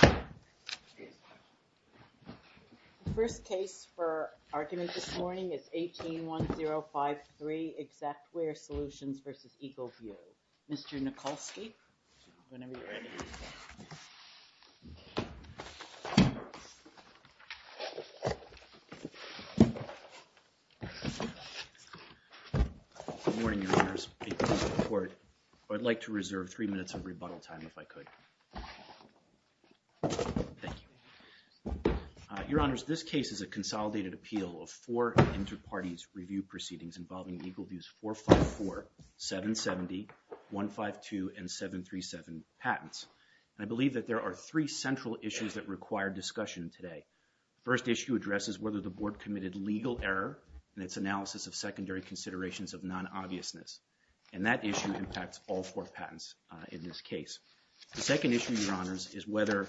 The first case for argument this morning is 18-1053, Xactware Solutions v. Eagle View. Mr. Nikolsky, whenever you're ready. Good morning, Your Honors. Thank you for your support. I'd like to reserve three minutes of rebuttal time if I could. Thank you. Your Honors, this case is a consolidated appeal of four inter-parties review proceedings involving Eagle View's 454, 770, 152, and 737 patents. I believe that there are three central issues that require discussion today. The first issue addresses whether the Board committed legal error in its analysis of secondary considerations of non-obviousness, and that issue impacts all four patents in this case. The second issue, Your Honors, is whether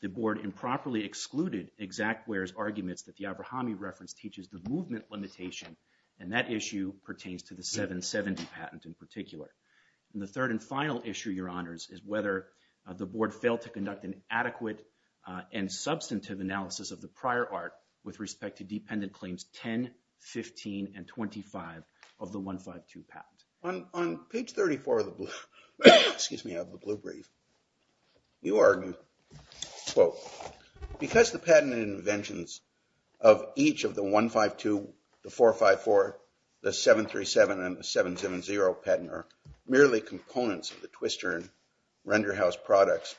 the Board improperly excluded Xactware's arguments that the Avrahami reference teaches the movement limitation, and that issue pertains to the 770 patent in particular. And the third and final issue, Your Honors, is whether the Board failed to conduct an adequate and substantive analysis of the prior art with respect to dependent claims 10, 15, and 25 of the 152 patent. On page 34 of the blue, excuse me, of the blue brief, you argue, quote, because the patent inventions of each of the 152, the 454, the 737, and the 770 patent are merely components of the Twister and RenderHouse products,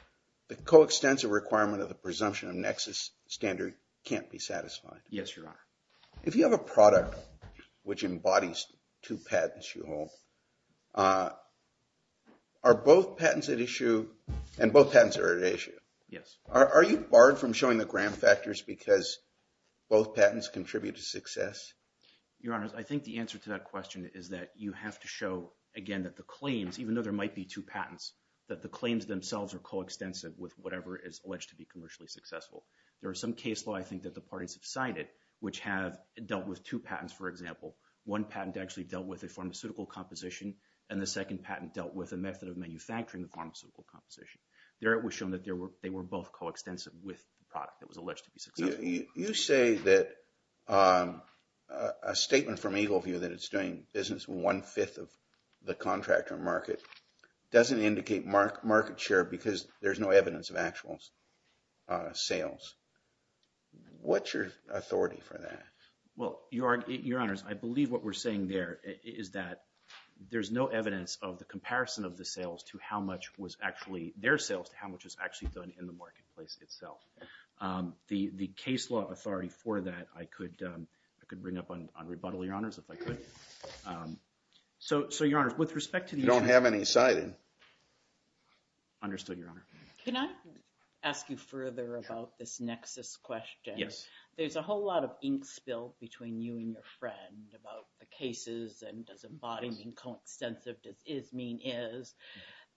the coextensive requirement of the presumption of nexus standard can't be satisfied. Yes, Your Honor. If you have a product which embodies two patents you hold, are both patents at issue, and both patents are at issue? Yes. Are you barred from showing the gram factors because both patents contribute to success? Your Honors, I think the answer to that question is that you have to show, again, that the claims, even though there might be two patents, that the claims themselves are coextensive with whatever is alleged to be commercially successful. There is some case law, I think, that the parties have signed it, which have dealt with two patents, for example. One patent actually dealt with a pharmaceutical composition, and the second patent dealt with a method of manufacturing the pharmaceutical composition. There it was shown that they were both coextensive with the product that was alleged to be successful. You say that a statement from Eagle View that it's doing business with one-fifth of the contractor market doesn't indicate market share because there's no evidence of actual sales. What's your authority for that? Well, Your Honors, I believe what we're saying there is that there's no evidence of the comparison of the sales to how much was actually, their sales to how much was actually done in the marketplace itself. The case law authority for that, I could bring up on rebuttal, Your Honors, if I could. So, Your Honors, with respect to the... You don't have any citing. Understood, Your Honor. Can I ask you further about this nexus question? Yes. There's a whole lot of ink spilled between you and your friend about the cases, and does embodying coextensive, does is mean is.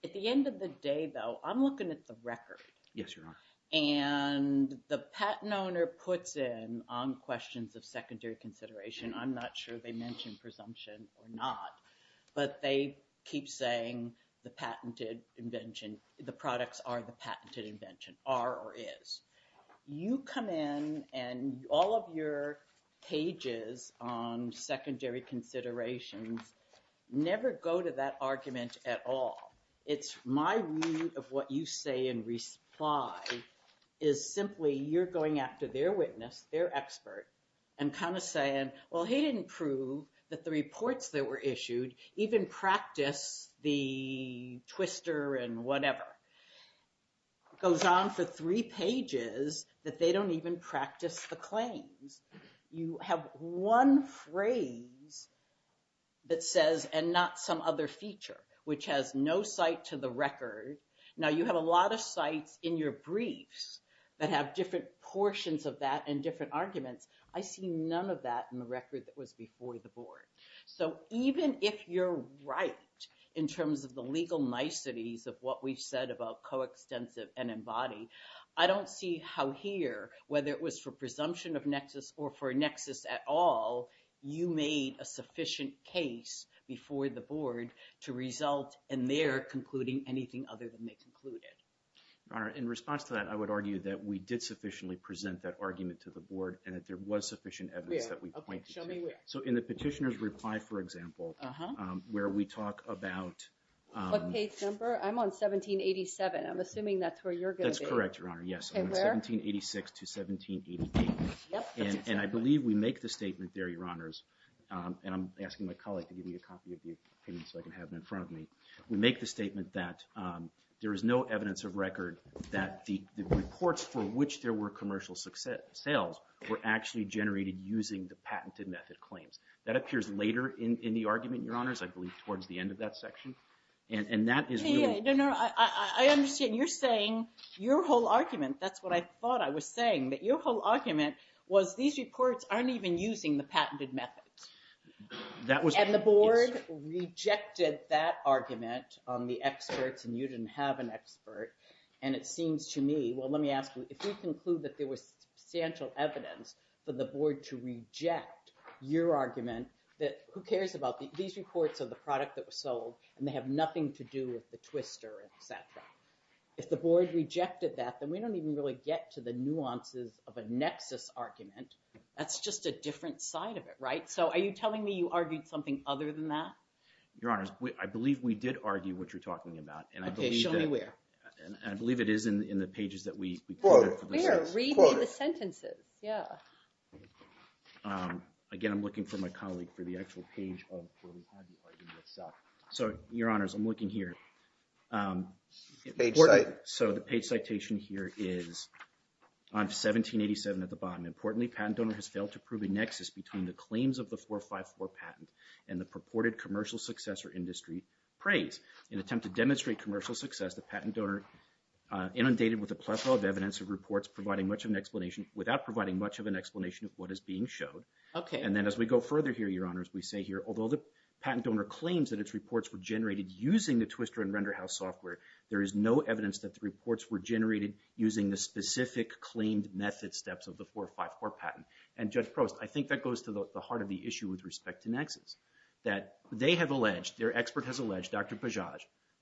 At the end of the day, though, I'm looking at the record. Yes, Your Honor. And the patent owner puts in, on questions of secondary consideration, I'm not sure they mention presumption or not, but they keep saying the patented invention, the products are the patented invention, are or is. You come in and all of your pages on secondary considerations never go to that argument at all. It's my view of what you say in reply, is simply you're going after their witness, their expert, and kind of saying, well, he didn't prove that the reports that were issued even practice the twister and whatever. Goes on for three pages that they don't even practice the claims. You have one phrase that says, and not some other feature, which has no site to the record. Now, you have a lot of sites in your briefs that have different portions of that and different arguments, I see none of that in the record that was before the board. So, even if you're right in terms of the legal niceties of what we've said about coextensive and embodied, I don't see how here, whether it was for presumption of nexus or for nexus at all, you made a sufficient case before the board to result in their concluding anything other than they concluded. Your Honor, in response to that, I would argue that we did sufficiently present that argument to the board and that there was sufficient evidence that we pointed to. Okay, show me where. So, in the petitioner's reply, for example, where we talk about... What page number? I'm on 1787. I'm assuming that's where you're going to be. That's correct, Your Honor, yes. Okay, where? 1786 to 1788. And I believe we make the statement there, Your Honors, and I'm asking my colleague to give me a copy of the opinion so I can have it in front of me. We make the statement that there is no evidence of record that the reports for which there were commercial sales were actually generated using the patented method claims. That appears later in the argument, Your Honors, I believe towards the end of that section, and that is... No, no, I understand. You're saying your whole argument, that's what I thought I was saying, that your whole argument was these reports aren't even using the patented methods. And the board rejected that argument on the experts, and you didn't have an expert, and it seems to me... Well, let me ask you, if we conclude that there was substantial evidence for the board to reject your argument, who cares about these reports of the product that was sold, and they have nothing to do with the twister, et cetera. If the board rejected that, then we don't even really get to the nuances of a nexus argument. That's just a different side of it, right? So are you telling me you argued something other than that? Your Honors, I believe we did argue what you're talking about. Okay, show me where. I believe it is in the pages that we quoted. Where? Read me the sentences, yeah. Again, I'm looking for my colleague for the actual page of where we had the argument itself. So, Your Honors, I'm looking here. Page citation. So the page citation here is on 1787 at the bottom. Importantly, patent donor has failed to prove a nexus between the claims of the 454 patent and the purported commercial success or industry praise. In an attempt to demonstrate commercial success, the patent donor inundated with a plethora of evidence of reports without providing much of an explanation of what is being showed. And then as we go further here, Your Honors, we say here, although the patent donor claims that its reports were generated using the Twister and RenderHouse software, there is no evidence that the reports were generated using the specific claimed method steps of the 454 patent. And Judge Prost, I think that goes to the heart of the issue with respect to nexus, that they have alleged, their expert has alleged, Dr. Bajaj,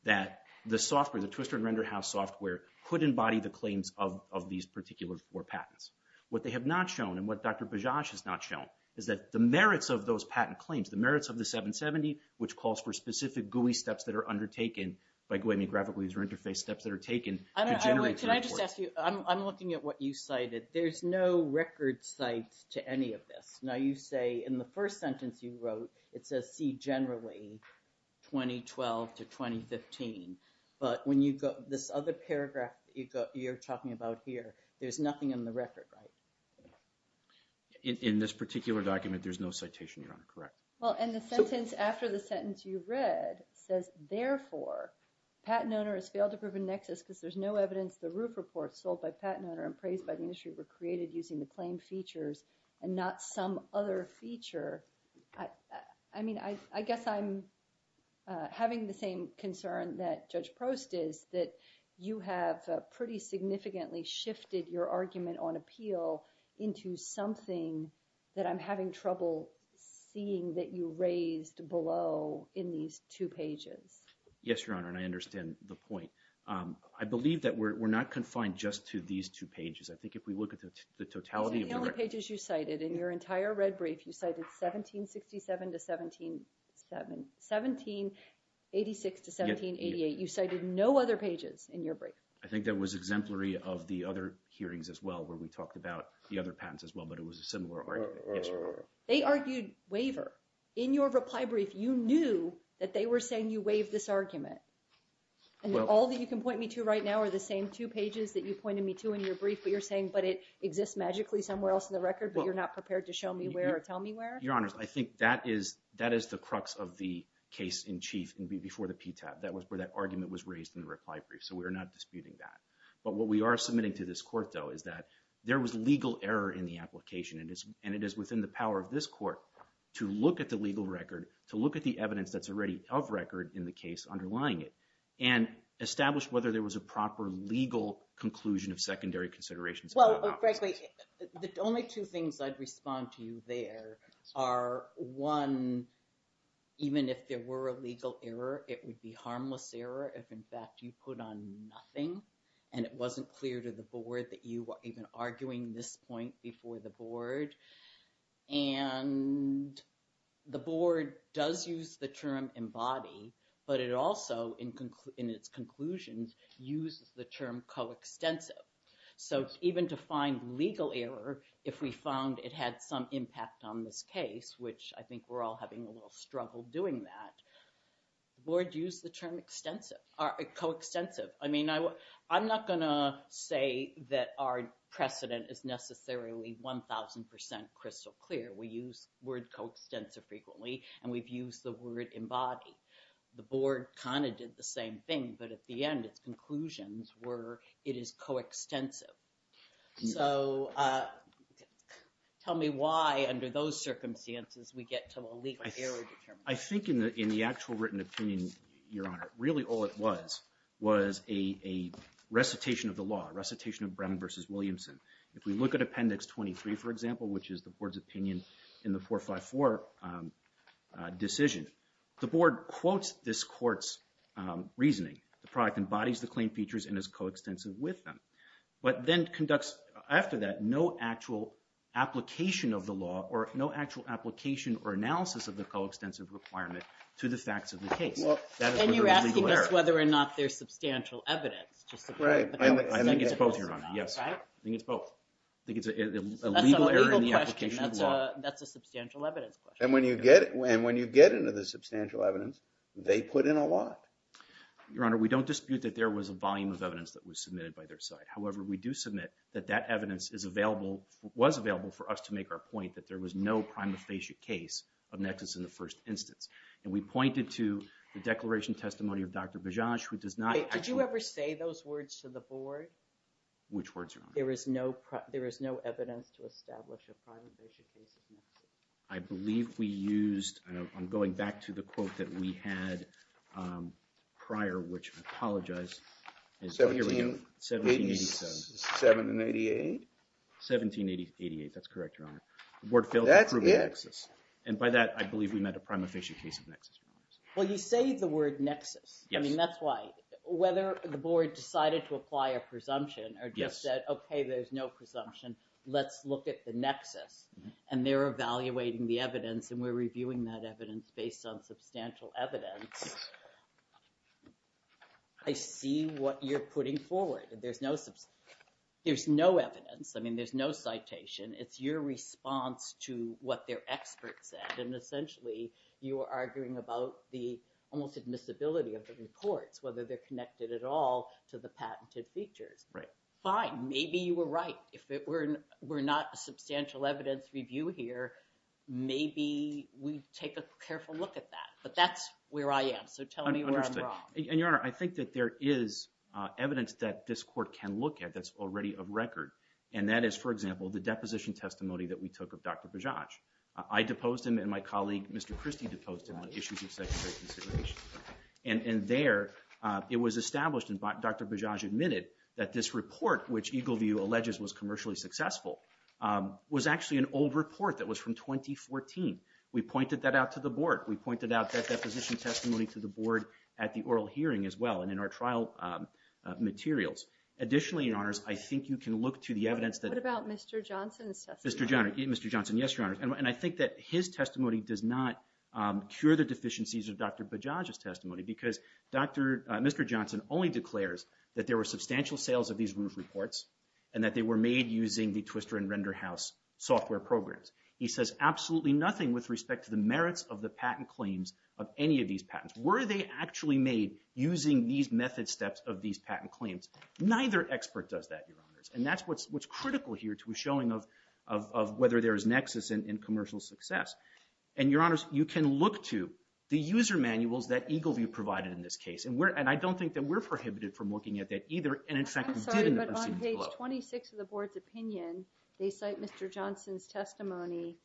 that the software, the Twister and RenderHouse software, could embody the claims of these particular four patents. What they have not shown, and what Dr. Bajaj has not shown, is that the merits of those patent claims, the merits of the 770, which calls for specific GUI steps that are undertaken by GUI, graphical user interface steps, that are taken to generate the report. Can I just ask you, I'm looking at what you cited. There's no record cite to any of this. Now you say, in the first sentence you wrote, it says, see generally 2012 to 2015. But when you go, this other paragraph that you're talking about here, there's nothing in the record, right? In this particular document, there's no citation, Your Honor, correct? Well, and the sentence after the sentence you read says, therefore, patent owner has failed to prove a nexus because there's no evidence the roof reports sold by patent owner and praised by the industry were created using the claimed features and not some other feature. I mean, I guess I'm having the same concern that Judge Prost is, that you have pretty significantly shifted your argument on appeal into something that I'm having trouble seeing that you raised below in these two pages. Yes, Your Honor, and I understand the point. I believe that we're not confined just to these two pages. I think if we look at the totality of the record... The pages you cited in your entire red brief, you cited 1767 to 1787, 1786 to 1788. You cited no other pages in your brief. I think that was exemplary of the other hearings as well where we talked about the other patents as well, but it was a similar argument, yes, Your Honor. They argued waiver. In your reply brief, you knew that they were saying you waived this argument. And all that you can point me to right now are the same two pages that you pointed me to in your brief, but you're saying, but it exists magically somewhere else in the record, but you're not prepared to show me where or tell me where? Your Honor, I think that is the crux of the case in chief before the PTAB. That was where that argument was raised in the reply brief, so we are not disputing that. But what we are submitting to this court though is that there was legal error in the application and it is within the power of this court to look at the legal record, to look at the evidence that's already of record in the case underlying it, and establish whether there was a proper legal conclusion of secondary considerations. Well, frankly, the only two things I'd respond to you there are one, even if there were a legal error, it would be harmless error if in fact you put on nothing and it wasn't clear to the board that you were even arguing this point before the board. And the board does use the term embody, but it also, in its conclusions, uses the term coextensive. So even to find legal error, if we found it had some impact on this case, which I think we're all having a little struggle doing that, the board used the term extensive, coextensive. I mean, I'm not gonna say that our precedent is necessarily 1,000% crystal clear. We use the word coextensive frequently and we've used the word embody. The board kind of did the same thing, but at the end, its conclusions were it is coextensive. So tell me why, under those circumstances, we get to a legal error determination. I think in the actual written opinion, Your Honor, really all it was was a recitation of the law, a recitation of Brown v. Williamson. If we look at Appendix 23, for example, which is the board's opinion in the 454 decision, the board quotes this court's reasoning. The product embodies the claim features and is coextensive with them, but then conducts, after that, no actual application of the law or no actual application or analysis of the coextensive requirement to the facts of the case. That is whether there's legal error. And you're asking whether or not there's substantial evidence. I think it's both, Your Honor, yes. I think it's both. I think it's a legal error in the application of the law. That's a substantial evidence question. And when you get into the substantial evidence, they put in a lot. Your Honor, we don't dispute that there was a volume of evidence that was submitted by their side. However, we do submit that that evidence was available for us to make our point that there was no prima facie case of nexus in the first instance. And we pointed to the declaration testimony of Dr. Bajaj, who does not... Did you ever say those words to the board? Which words, Your Honor? There is no evidence to establish a prima facie case of nexus. I believe we used... I'm going back to the quote that we had prior, which I apologize. 1787. 1788. 1788, that's correct, Your Honor. That's it. And by that, I believe we meant a prima facie case of nexus. Well, you say the word nexus. I mean, that's why. Whether the board decided to apply a presumption or just said, OK, there's no presumption. Let's look at the nexus. And they're evaluating the evidence and we're reviewing that evidence based on substantial evidence. I see what you're putting forward. There's no... There's no evidence. I mean, there's no citation. It's your response to what their experts said. And essentially, you are arguing about the almost admissibility of the reports, whether they're connected at all to the patented features. Fine, maybe you were right. If it were not a substantial evidence review here, maybe we'd take a careful look at that. But that's where I am. So tell me where I'm wrong. Understood. And, Your Honor, I think that there is evidence that this Court can look at that's already of record. And that is, for example, the deposition testimony that we took of Dr. Bajaj. I deposed him and my colleague, Mr. Christie, deposed him on issues of secondary consideration. And there, it was established and Dr. Bajaj admitted that this report, which Eagle View alleges was commercially successful, was actually an old report that was from 2014. We pointed that out to the Board. We pointed out that deposition testimony to the Board at the oral hearing as well and in our trial materials. Additionally, Your Honors, I think you can look to the evidence that... What about Mr. Johnson's testimony? Mr. Johnson, yes, Your Honors. And I think that his testimony does not cure the deficiencies of Dr. Bajaj's testimony because Mr. Johnson only declares that there were substantial sales of these roof reports and that they were made using the Twister and RenderHouse software programs. He says absolutely nothing with respect to the merits of the patent claims of any of these patents. Were they actually made using these method steps of these patent claims? Neither expert does that, Your Honors. And that's what's critical here to a showing of whether there is nexus in commercial success. And, Your Honors, you can look to the user manuals that Eagle View provided in this case. And I don't think that we're prohibited from looking at that either. I'm sorry, but on page 26 of the Board's opinion, they cite Mr. Johnson's testimony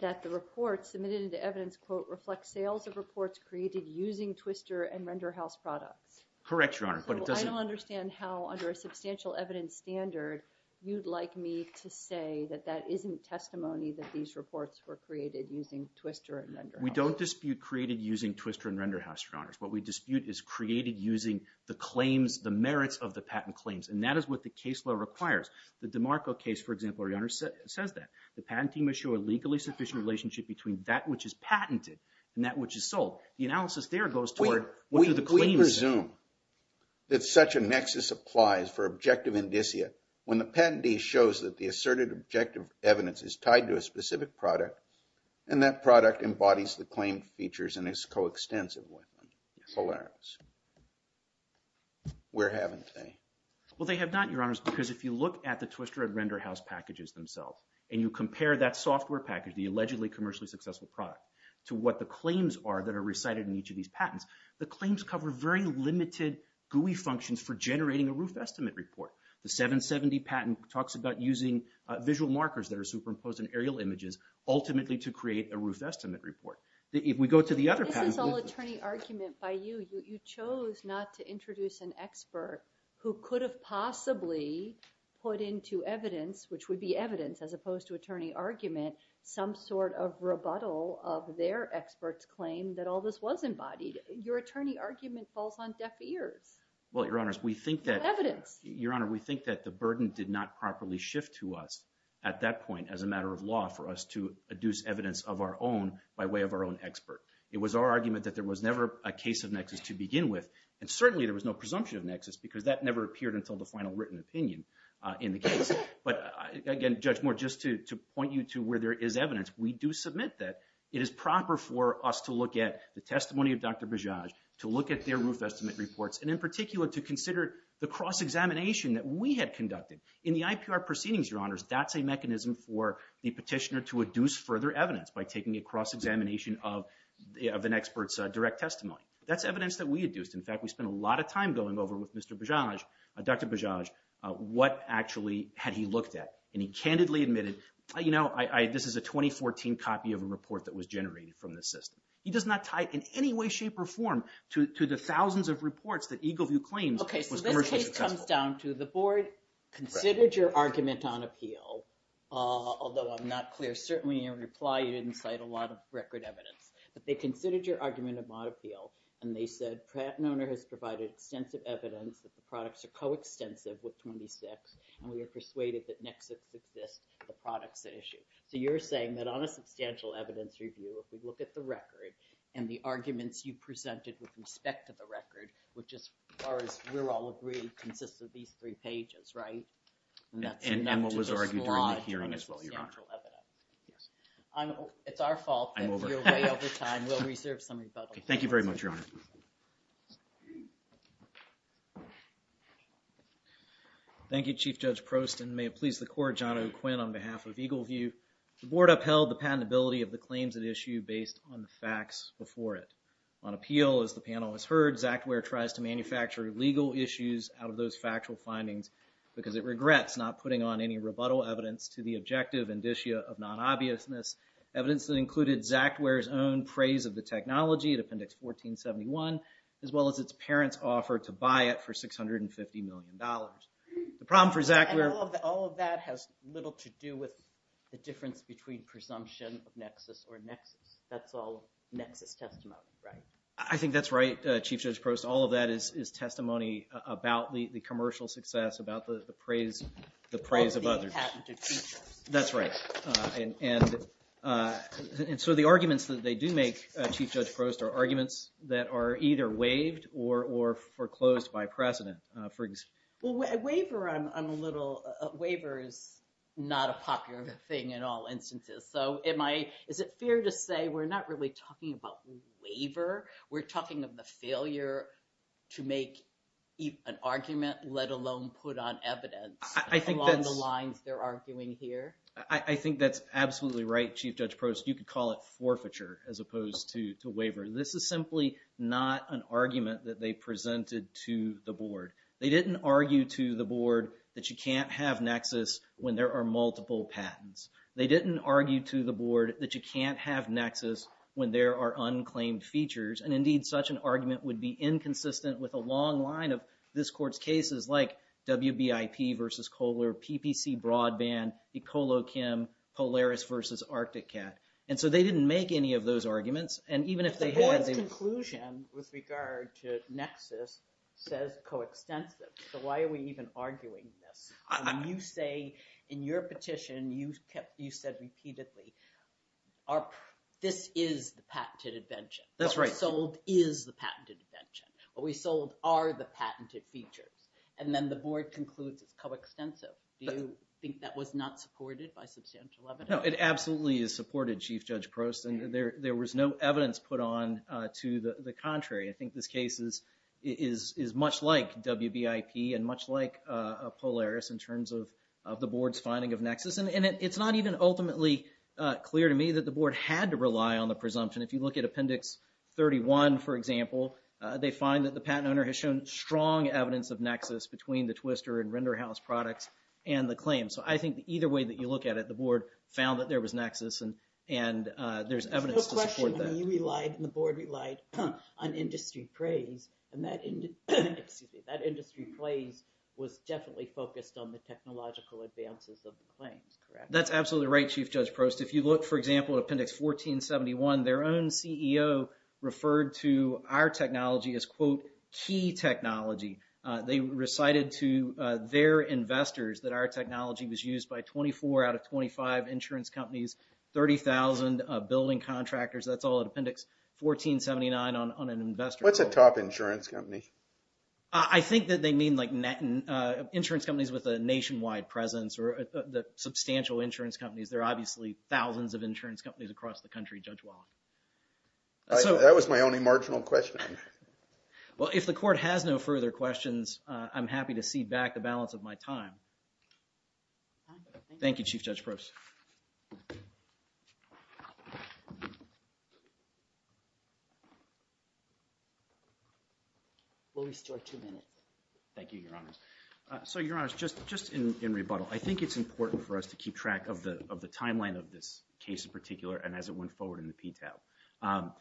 that the report submitted into evidence, quote, reflects sales of reports created using Twister and RenderHouse products. Correct, Your Honor, but it doesn't... I don't understand how, under a substantial evidence standard, you'd like me to say that that isn't testimony that these reports were created using Twister and RenderHouse. We don't dispute created using Twister and RenderHouse, Your Honors. What we dispute is created using the claims, the merits of the patent claims. And that is what the case law requires. The DiMarco case, for example, Your Honor, says that. The patent team must show a legally sufficient relationship between that which is patented and that which is sold. The analysis there goes toward... We presume that such a nexus applies for objective indicia when the patentee shows that the asserted objective evidence is tied to a specific product and that product embodies the claimed features and is coextensive with them. Where haven't they? Well, they have not, Your Honors, because if you look at the Twister and RenderHouse packages themselves and you compare that software package, the allegedly commercially successful product, to what the claims are that are recited in each of these patents, the claims cover very limited GUI functions for generating a roof estimate report. The 770 patent talks about using visual markers that are ultimately to create a roof estimate report. If we go to the other patents... This is all attorney argument by you. You chose not to introduce an expert who could have possibly put into evidence, which would be evidence as opposed to attorney argument, some sort of rebuttal of their expert's claim that all this was embodied. Your attorney argument falls on deaf ears. Well, Your Honors, we think that... Evidence. Your Honor, we think that the burden did not properly shift to us at that point as a matter of law for us to adduce evidence of our own by way of our own expert. It was our argument that there was never a case of nexus to begin with, and certainly there was no presumption of nexus because that never appeared until the final written opinion in the case. But again, Judge Moore, just to point you to where there is evidence, we do submit that it is proper for us to look at the testimony of Dr. Bajaj, to look at their roof estimate reports, and in particular to consider the cross examination that we had conducted. In the IPR proceedings, Your Honors, that's a mechanism for the petitioner to adduce further evidence by taking a cross examination of an expert's direct testimony. That's evidence that we adduced. In fact, we spent a lot of time going over with Mr. Bajaj, Dr. Bajaj, what actually had he looked at, and he candidly admitted, you know, this is a 2014 copy of a report that was generated from this system. He does not tie it in any way, shape, or form to the thousands of reports that Eagleview claims was commercially successful. It comes down to the Board considered your argument on appeal, although I'm not clear, certainly in your reply you didn't cite a lot of record evidence, but they considered your argument on appeal, and they said Pratt & Oner has provided extensive evidence that the products are co-extensive with 26, and we are persuaded that Nexus exists, the product's an issue. So you're saying that on a substantial evidence review, if we look at the record and the arguments you presented with respect to the record, which as far as we're all agreed, consists of these three pages, right? And that's enough to disclose a lot of general substantial evidence. It's our fault that you're way over time, we'll reserve some rebuttal. Thank you very much, Your Honor. Thank you, Chief Judge Prost, and may it please the Court, John O'Quinn on behalf of Eagleview, the Board upheld the patentability of the claims at issue based on the facts before it. On appeal, as the panel has heard, Zachtweyer tries to manufacture legal issues out of those factual findings because it regrets not putting on any rebuttal evidence to the objective indicia of non-obviousness, evidence that included Zachtweyer's own praise of the technology at Appendix 1471, as well as its parents' offer to buy it for $650 million. The problem for Zachtweyer... All of that has little to do with the difference between presumption of Nexus or Nexus. That's all Nexus testimony, right? I think that's right, Chief Judge Prost. All of that is testimony about the commercial success, about the praise of others. Of the patented features. That's right. And so the arguments that they do make, Chief Judge Prost, are arguments that are either waived or foreclosed by precedent. Waiver, I'm a little... Waiver is not a popular thing in all instances. So is it fair to say we're not really talking about waiver? We're talking of the failure to make an argument, let alone put on evidence along the lines they're arguing here? I think that's absolutely right, Chief Judge Prost. You could call it forfeiture as opposed to waiver. This is simply not an argument that they presented to the Board. They didn't argue to the Board that you can't have Nexus when there are multiple patents. They didn't argue to the Board that you can't have Nexus when there are unclaimed features. And indeed such an argument would be inconsistent with a long line of this Court's cases like WBIP versus Kohler, PPC Broadband, Ecolochem, Polaris versus ArcticCat. And so they didn't make any of those arguments. The Board's conclusion with regard to Nexus says coextensive. So why are we even arguing this? You say in your petition, you said repeatedly, this is the patented invention. What we sold is the patented invention. What we sold are the patented features. And then the Board concludes it's coextensive. Do you think that was not supported by substantial evidence? No, it absolutely is supported, Chief Judge Prost, and there was no evidence put on to the contrary. I think this case is much like WBIP and much like Polaris in terms of the Board's finding of Nexus. And it's not even ultimately clear to me that the Board had to rely on the presumption. If you look at Appendix 31, for example, they find that the patent owner has shown strong evidence of Nexus between the Twister and RenderHouse products and the claim. So I think either way that you look at it, the Board found that there was Nexus and there's evidence to support that. You relied and the Board relied on industry praise. And that industry praise was definitely focused on the technological advances of the claims, correct? That's absolutely right, Chief Judge Prost. If you look, for example, at Appendix 1471, their own CEO referred to our technology as, quote, key technology. They recited to their investors that our technology was used by 24 out of 25 insurance companies, 30,000 building contractors. That's all at Appendix 1479 on an investor. What's a top insurance company? I think that they mean like insurance companies with a nationwide presence or substantial insurance companies. There are obviously thousands of insurance companies across the country, Judge Wallach. That was my only marginal question. Well, if the Court has no further questions, I'm happy to cede back the balance of my time. Thank you, Chief Judge Prost. We'll restore two minutes. Thank you, Your Honors. So, Your Honors, just in rebuttal, I think it's important for us to keep track of the timeline of this case in particular and as it went forward in the PTAB.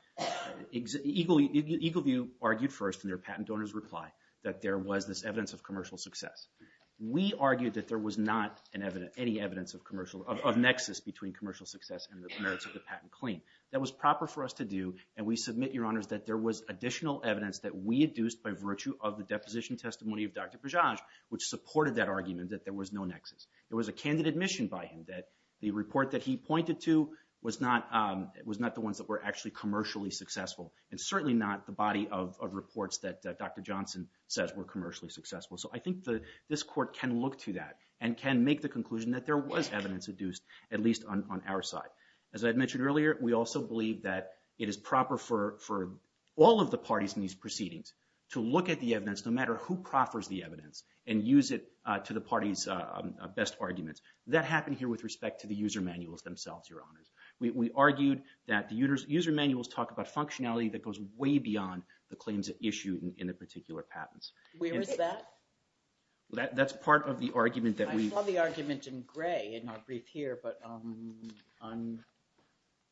Eagleview argued first in their patent donor's reply that there was this evidence of commercial success. We argued that there was not any evidence of nexus between commercial success and the merits of the patent claim. That was proper for us to do, and we submit, Your Honors, that there was additional evidence that we deduced by virtue of the deposition testimony of Dr. Pajaj, which supported that argument that there was no nexus. There was a candid admission by him that the report that he pointed to was not the ones that were actually commercially successful and certainly not the body of reports that Dr. Johnson says were commercially successful. So, I think this Court can look to that and can make the conclusion that there was evidence deduced, at least on our side. As I mentioned earlier, we also believe that it is proper for all of the parties in these proceedings to look at the evidence, no matter who proffers the evidence, and use it to the parties' best arguments. That happened here with respect to the user manuals themselves, Your Honors. We argued that the user manuals talk about functionality that goes way beyond the claims issued in the particular patents. Where is that? That's part of the argument that we I saw the argument in gray in our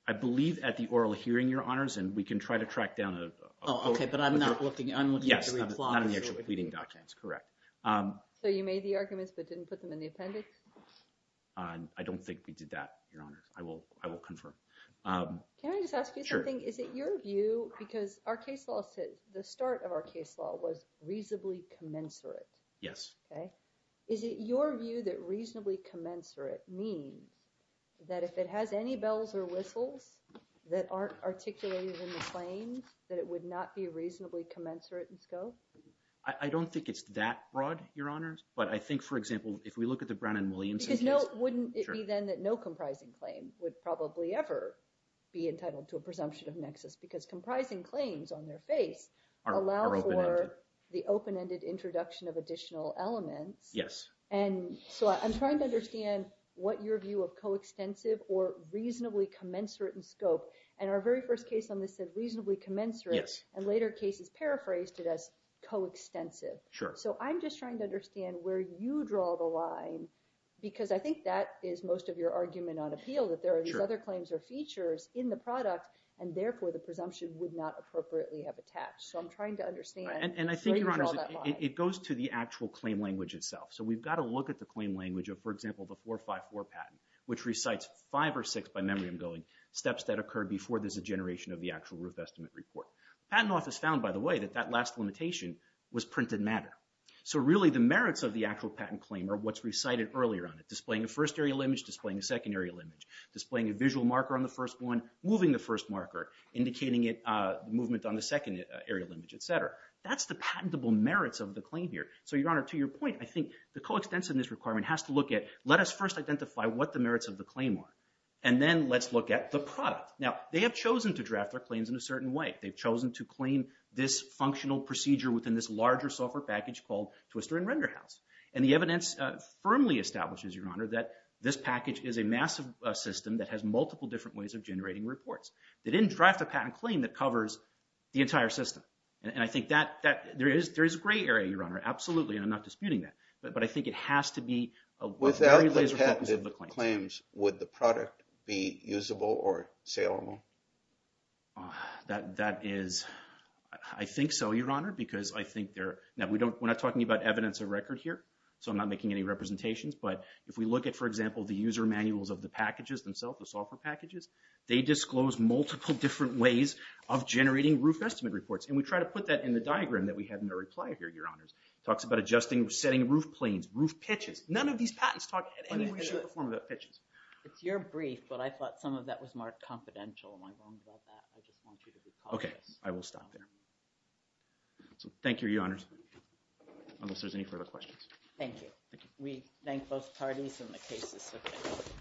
I believe at the oral hearing, Your Honors, and we can try to track down Oh, okay, but I'm not looking Yes, not in the actual pleading documents. Correct. So you made the arguments but didn't put them in the appendix? I don't think we did that, Your Honors. I will confirm. Can I just ask you something? Sure. Is it your view, because our case law the start of our case law was reasonably commensurate? Yes. Okay. Is it your view that reasonably commensurate means that if it has any bells or whistles that aren't articulated in the claims that it would not be reasonably commensurate in scope? I don't think it's that broad, Your Honors, but I think, for example, if we look at the Brown and Williamson case Because wouldn't it be then that no comprising claim would probably ever be entitled to a presumption of nexus because comprising claims on their face allow for the open-ended introduction of additional elements? Yes. And so I'm trying to understand what your view of coextensive or reasonably commensurate in scope, and our very first case on this said reasonably commensurate and later cases paraphrased it as coextensive. Sure. So I'm just trying to understand where you draw the line because I think that is most of your argument on appeal that there are these other claims or features in the product and therefore the presumption would not appropriately have attached. So I'm trying to understand where you draw that line. And I think, Your Honors, it goes to the actual claim language itself. So we've got to look at the claim language of, for example, the 454 patent, which recites five or six, by memory I'm going, steps that occurred before there's a generation of the actual roof estimate report. Patent Office found, by the way, that that last limitation was printed matter. So really the merits of the actual patent claim are what's recited earlier on it. Displaying a first aerial image, displaying a second aerial image. Displaying a visual marker on the first one, moving the first marker, indicating movement on the second aerial image, etc. That's the patentable merits of the claim here. So, Your Honor, to your point, I think the coextensiveness requirement has to look at let us first identify what the merits of the claim are. And then let's look at the product. Now, they have chosen to draft their claims in a certain way. They've chosen to claim this functional procedure within this larger software package called Twister and Renderhouse. And the evidence firmly establishes, Your Honor, that this package is a massive system that has multiple different ways of generating reports. They didn't draft a patent claim that covers the entire system. And I think that there is gray area, Your Honor, absolutely, and I'm not disputing that. But I think it has to be a very laser focus of the claims. Without the patented claims, would the product be usable or saleable? That is I think so, Your Honor, because I think they're... Now, we're not talking about evidence of record here, so I'm not making any representations. But if we look at, for example, the user manuals of the packages themselves, the software packages, they disclose multiple different ways of generating roof estimate reports. And we try to put that in the diagram that we have in our reply here, Your Honors. Talks about adjusting, setting roof planes, roof pitches. None of these patents talk in any way, shape, or form about pitches. It's your brief, but I thought some of that was marked confidential. Am I wrong about that? I just want you to recall that. Okay. I will stop there. So, thank you, Your Honors. Unless there's any further questions. Thank you. Thank you. We thank both parties and the cases submitted.